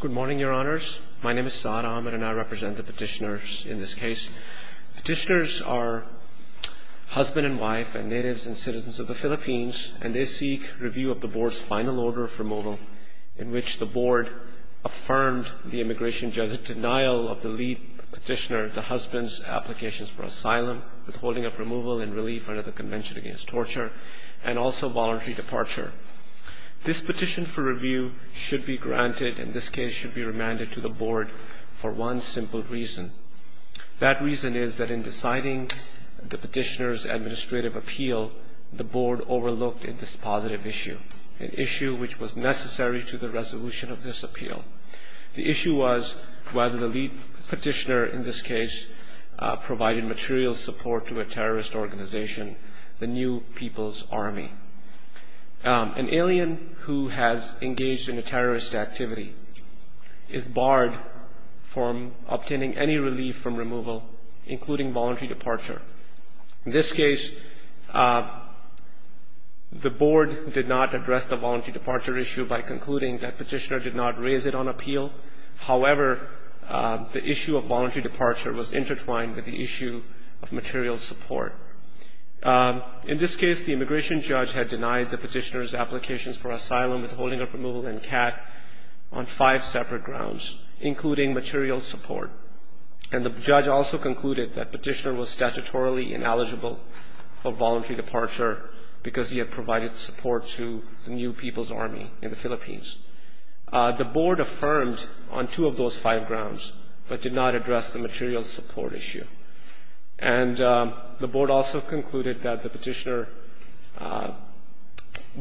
Good morning, Your Honors. My name is Saad Ahmed, and I represent the petitioners in this case. Petitioners are husband and wife and natives and citizens of the Philippines, and they seek review of the Board's final order of removal, in which the Board affirmed the immigration judge's denial of the lead petitioner, the husband's, applications for asylum, withholding of removal and relief under the Convention Against Torture, and also voluntary departure. This petition for review should be granted, in this case should be remanded to the Board for one simple reason. That reason is that in deciding the petitioner's administrative appeal, the Board overlooked a dispositive issue, an issue which was necessary to the resolution of this appeal. The issue was whether the lead petitioner, in this case, provided material support to a terrorist organization, the New People's Army. An alien who has engaged in a terrorist activity is barred from obtaining any relief from removal, including voluntary departure. In this case, the Board did not address the voluntary departure issue by concluding that petitioner did not raise it on appeal. However, the issue of voluntary departure was intertwined with the issue of material support. In this case, the immigration judge had denied the petitioner's applications for asylum, withholding of removal and CAT on five separate grounds, including material support. And the judge also concluded that petitioner was statutorily ineligible for voluntary departure because he had provided support to the New People's Army in the Philippines. The Board affirmed on two of those five grounds, but did not address the material support issue. And the Board also concluded that the petitioner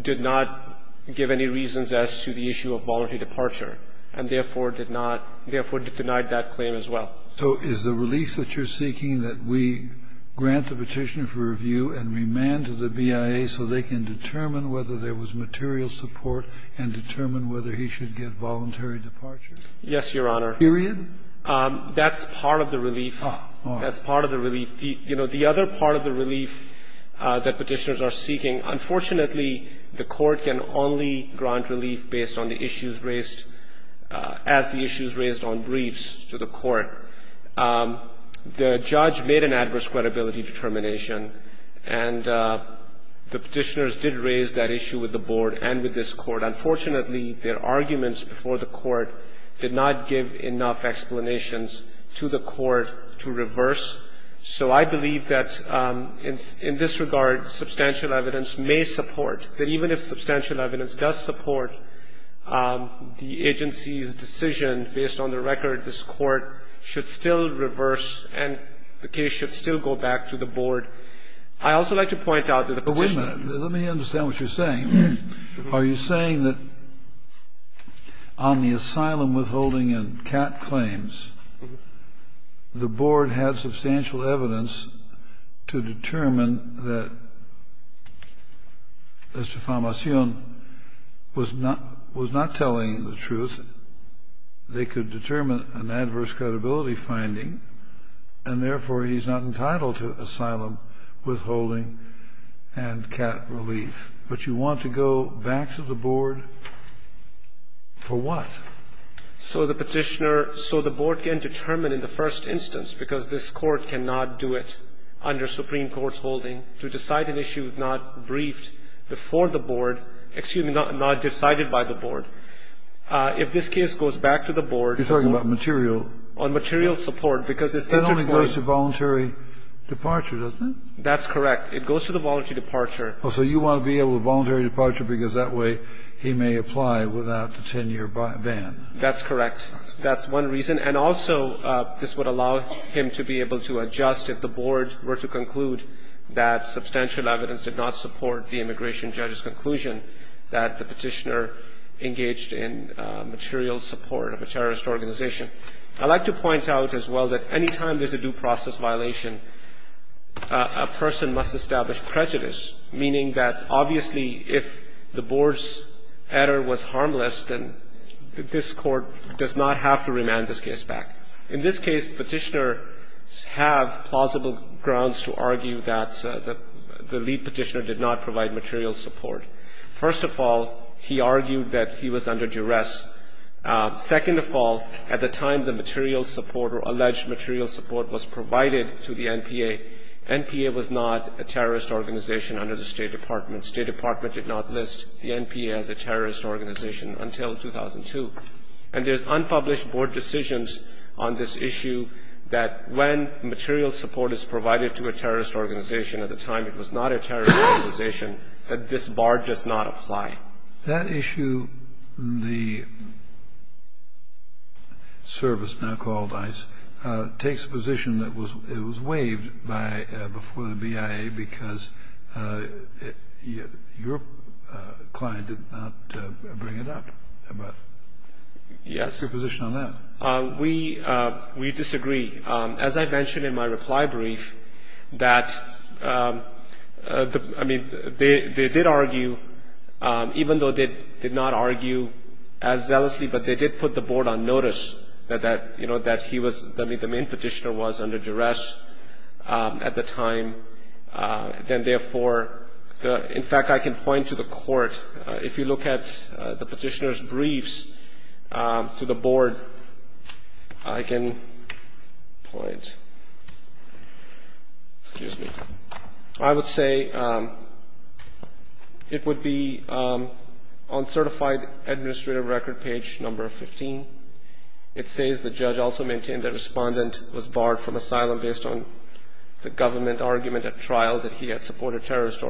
did not give any reasons as to the issue of voluntary departure, and therefore did not – therefore denied that claim as well. Kennedy. So is the release that you're seeking that we grant the petitioner for review and remand to the BIA so they can determine whether there was material support and determine whether he should get voluntary departure? Yes, Your Honor. Period? That's part of the relief. Oh, all right. That's part of the relief. You know, the other part of the relief that petitioners are seeking, unfortunately, the Court can only grant relief based on the issues raised – as the issues raised on briefs to the Court. The judge made an adverse credibility determination, and the petitioners did raise that issue with the Board and with this Court. Unfortunately, their arguments before the Court did not give enough explanations to the Court to reverse. So I believe that in this regard, substantial evidence may support that even if substantial evidence does support the agency's decision, based on the record, this Court should still reverse and the case should still go back to the Board. I'd also like to point out that the petitioner – But wait a minute. Let me understand what you're saying. Are you saying that on the asylum withholding and CAT claims, the Board had substantial evidence to determine that Mr. Famacion was not telling the truth, they could determine an adverse credibility finding, and therefore he's not entitled to asylum withholding and CAT relief. But you want to go back to the Board for what? So the petitioner – so the Board can determine in the first instance, because this Court cannot do it under Supreme Court's holding, to decide an issue not briefed before the Board – excuse me, not decided by the Board. If this case goes back to the Board, the Board has the right to decide whether or not the petitioner is telling So the Board has the right to do that. But it only goes to voluntary departure, doesn't it? That's correct. It goes to the voluntary departure. So you want to be able to voluntary departure because that way he may apply without the 10-year ban. That's correct. That's one reason. And also, this would allow him to be able to adjust if the Board were to conclude that substantial evidence did not support the immigration judge's conclusion that the petitioner engaged in material support of a terrorist organization. I'd like to point out as well that any time there's a due process violation, a person must establish prejudice, meaning that obviously if the Board's harmless, then this Court does not have to remand this case back. In this case, petitioners have plausible grounds to argue that the lead petitioner did not provide material support. First of all, he argued that he was under duress. Second of all, at the time the material support or alleged material support was provided to the NPA, NPA was not a terrorist organization under the State Department. State Department did not list the NPA as a terrorist organization until 2002. And there's unpublished Board decisions on this issue that when material support is provided to a terrorist organization at the time it was not a terrorist organization, that this bar does not apply. That issue, the service now called ICE, takes a position that it was waived before the news came out. So there's a lot of difference between the BIA because your client did not bring it up. What's your position on that? Yes, we disagree. As I mentioned in my reply brief, that, I mean, they did argue, even though they did not argue as zealously, but they did put the Board on notice that he was, I mean, the main petitioner was under duress at the time. Then, therefore, in fact, I can point to the Court. If you look at the petitioner's briefs to the Board, I can point, excuse me, I would say it would be on certified administrative record page number 15. It says the judge also maintained that the respondent was barred from asylum based on the government argument at trial that he had supported terrorist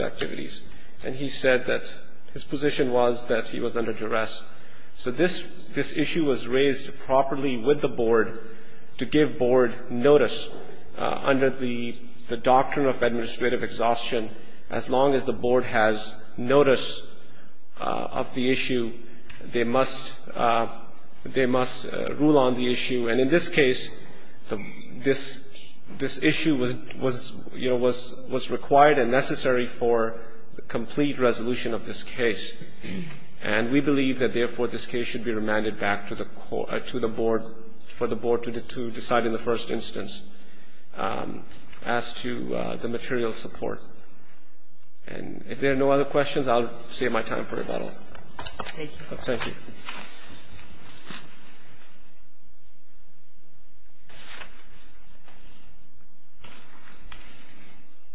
activities. And he said that his position was that he was under duress. So this issue was raised properly with the Board to give Board notice under the doctrine of administrative exhaustion as long as the Board has notice of the issue, they must rule on the issue. And in this case, this issue was, you know, was required and necessary for the complete resolution of this case. And we believe that, therefore, this case should be remanded back to the Board for the Board to decide in the first instance as to the material support. And if there are no other questions, I'll save my time for rebuttal. Thank you. Thank you.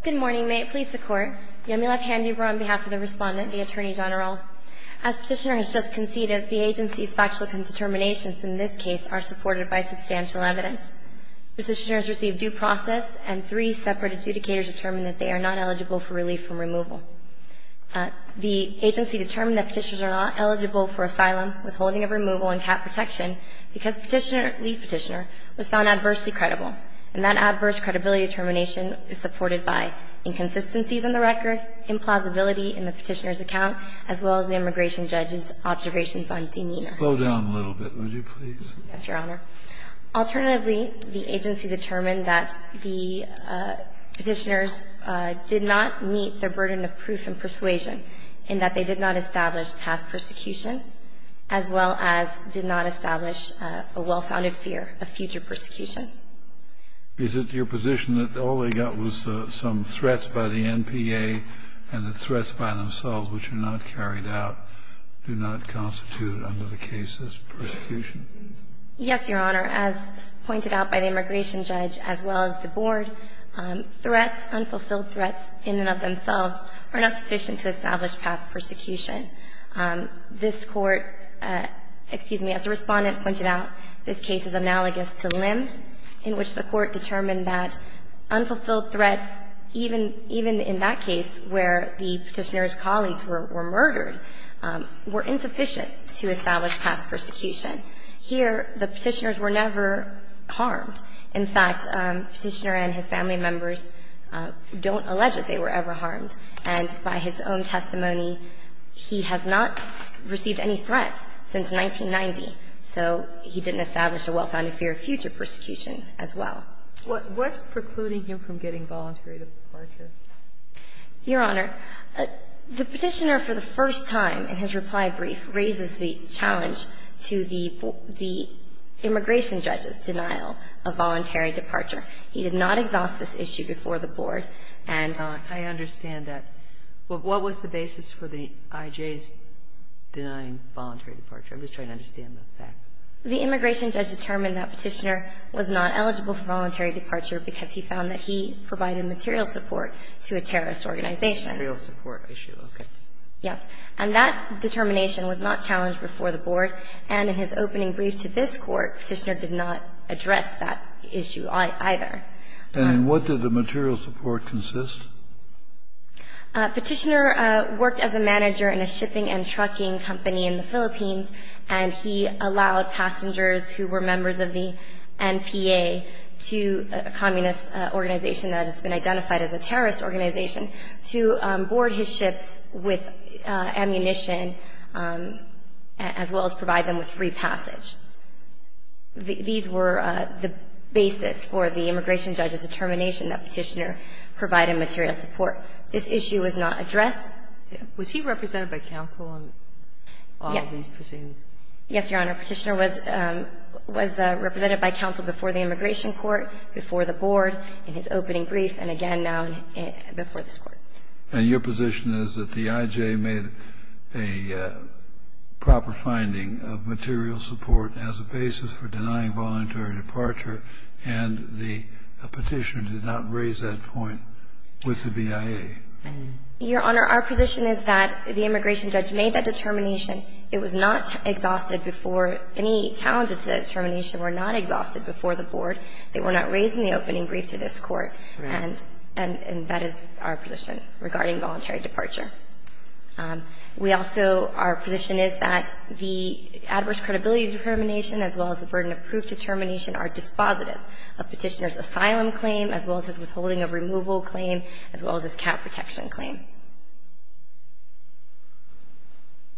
Good morning. May it please the Court. Yamileth Handuber on behalf of the Respondent, the Attorney General. As Petitioner has just conceded, the agency's factual determinations in this case are supported by substantial evidence. Petitioner has received due process and three separate adjudicators determined that they are not eligible for relief from removal. The agency determined that Petitioners are not eligible for asylum, withholding of removal, and cap protection because Petitioner, lead Petitioner, was found adversely credible. And that adverse credibility determination is supported by inconsistencies in the record, implausibility in the Petitioner's account, as well as the immigration judge's observations on Dean Yeener. Slow down a little bit, would you please. Yes, Your Honor. Alternatively, the agency determined that the Petitioners did not meet their burden of proof and persuasion in that they did not establish past persecution, as well as did not establish a well-founded fear of future persecution. Is it your position that all they got was some threats by the NPA and the threats by themselves, which are not carried out, do not constitute, under the cases, persecution? Yes, Your Honor. As pointed out by the immigration judge, as well as the board, threats, unfulfilled threats, in and of themselves, are not sufficient to establish past persecution. This Court, excuse me, as the Respondent pointed out, this case is analogous to Lim, in which the Court determined that unfulfilled threats, even in that case where the Petitioner's colleagues were murdered, were insufficient to establish past persecution. Here, the Petitioners were never harmed. In fact, the Petitioner and his family members don't allege that they were ever harmed. And by his own testimony, he has not received any threats since 1990. So he didn't establish a well-founded fear of future persecution as well. What's precluding him from getting voluntary departure? Your Honor, the Petitioner, for the first time in his reply brief, raises the challenge to the immigration judge's denial of voluntary departure. He did not exhaust this issue before the board. And I understand that. What was the basis for the IJ's denying voluntary departure? I'm just trying to understand the facts. And what did the material support consist? Petitioner worked as a manager in a shipping and trucking company in the Philippines, and he allowed passengers who were members of the NPA to a communist organization to board his ships with ammunition as well as provide them with free passage. These were the basis for the immigration judge's determination that Petitioner provided material support. This issue was not addressed. Was he represented by counsel on all of these proceedings? Yes, Your Honor. Petitioner was represented by counsel before the immigration court, before the board in his opening brief, and again now before this court. And your position is that the IJ made a proper finding of material support as a basis for denying voluntary departure, and the Petitioner did not raise that point with the BIA? Your Honor, our position is that the immigration judge made that determination. It was not exhausted before any challenges to that determination were not exhausted before the board. They were not raised in the opening brief to this court, and that is our position regarding voluntary departure. We also, our position is that the adverse credibility determination as well as the burden of proof determination are dispositive of Petitioner's asylum claim as well as his withholding of removal claim as well as his cap protection claim.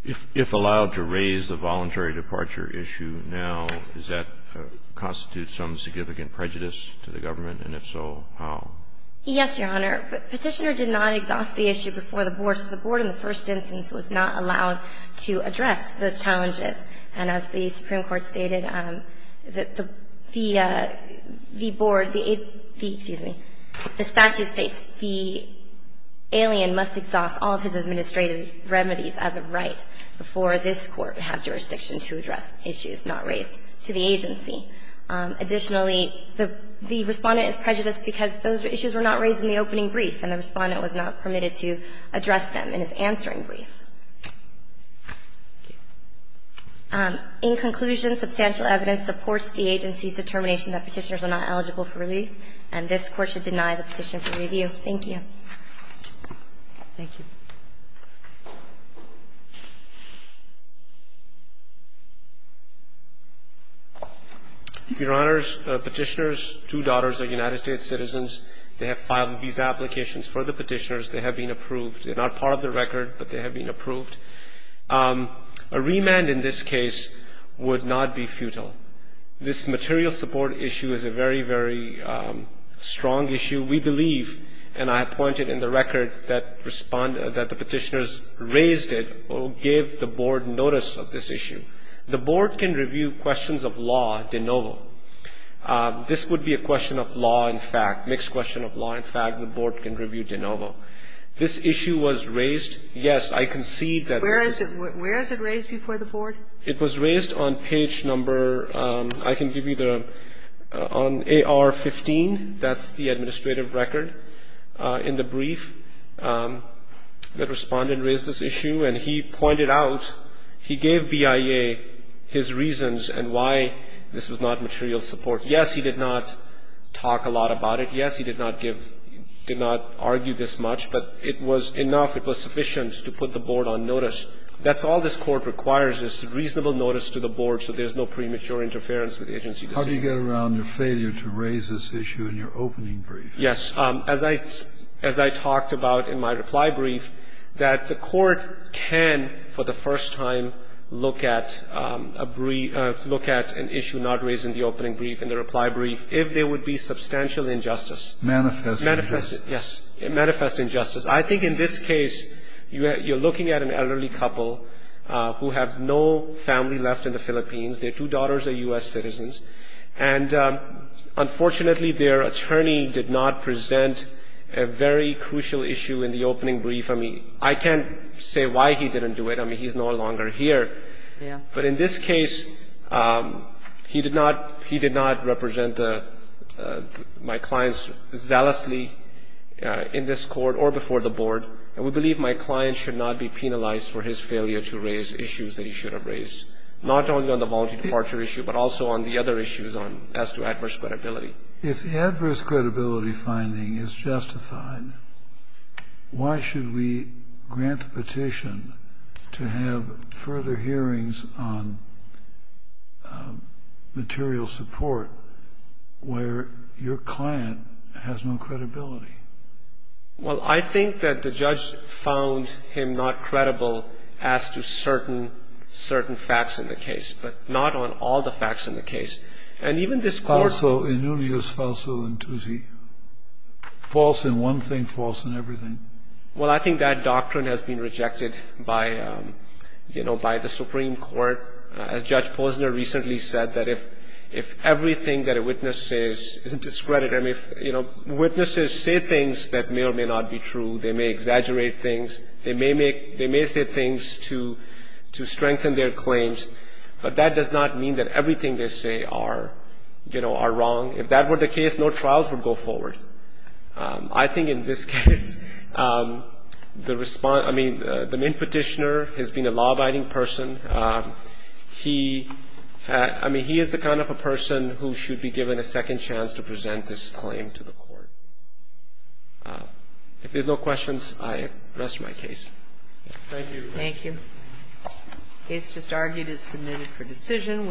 If allowed to raise the voluntary departure issue now, does that constitute some significant prejudice to the government? And if so, how? Yes, Your Honor. Petitioner did not exhaust the issue before the board, so the board in the first instance was not allowed to address those challenges. And as the Supreme Court stated, the board, excuse me, the statute states the alien must exhaust all of his administrative remedies as of right before this court would have jurisdiction to address issues not raised to the agency. Additionally, the Respondent is prejudiced because those issues were not raised in the opening brief, and the Respondent was not permitted to address them in his answering brief. In conclusion, substantial evidence supports the agency's determination that Petitioners are not eligible for relief, and this Court should deny the petition for review. Thank you. Thank you. Your Honors, Petitioners' two daughters are United States citizens. They have filed visa applications for the Petitioners. They have been approved. They're not part of the record, but they have been approved. A remand in this case would not be futile. This material support issue is a very, very strong issue. We believe, and I have pointed in the record that Respondent, that the Petitioners raised it or gave the board notice of this issue. The board can review questions of law de novo. This would be a question of law in fact, mixed question of law. In fact, the board can review de novo. This issue was raised. Yes, I concede that. Where is it? Where is it raised before the board? It was raised on page number, I can give you the, on AR-15. That's the administrative record in the brief that Respondent raised this issue. And he pointed out, he gave BIA his reasons and why this was not material support. Yes, he did not talk a lot about it. Yes, he did not give, did not argue this much. But it was enough. It was sufficient to put the board on notice. That's all this Court requires is reasonable notice to the board so there's no premature interference with agency decisions. Kennedy, what do you get around your failure to raise this issue in your opening brief? Yes. As I, as I talked about in my reply brief, that the Court can for the first time look at a brief, look at an issue not raised in the opening brief, in the reply brief, if there would be substantial injustice. Manifest injustice. Manifest injustice, yes. Manifest injustice. I think in this case you're looking at an elderly couple who have no family left in the Philippines. Their two daughters are U.S. citizens. And unfortunately, their attorney did not present a very crucial issue in the opening brief. I mean, I can't say why he didn't do it. I mean, he's no longer here. Yeah. But in this case, he did not, he did not represent the, my clients zealously in this Court or before the board. And we believe my client should not be penalized for his failure to raise issues that he should have raised. Not only on the voluntary departure issue, but also on the other issues on, as to adverse credibility. If the adverse credibility finding is justified, why should we grant the petition to have further hearings on material support where your client has no credibility? Well, I think that the judge found him not credible as to certain facts in the case, but not on all the facts in the case. And even this Court… Falso in unius, falso in tutti. False in one thing, false in everything. Well, I think that doctrine has been rejected by, you know, by the Supreme Court. As Judge Posner recently said, that if everything that a witness says isn't discredited, I mean, you know, witnesses say things that may or may not be true. They may exaggerate things. They may make, they may say things to, to strengthen their claims. But that does not mean that everything they say are, you know, are wrong. If that were the case, no trials would go forward. I think in this case, the response, I mean, the main petitioner has been a law-abiding person. He had, I mean, he is the kind of a person who should be given a second chance to present this claim to the Court. If there's no questions, I rest my case. Thank you. Thank you. The case just argued is submitted for decision.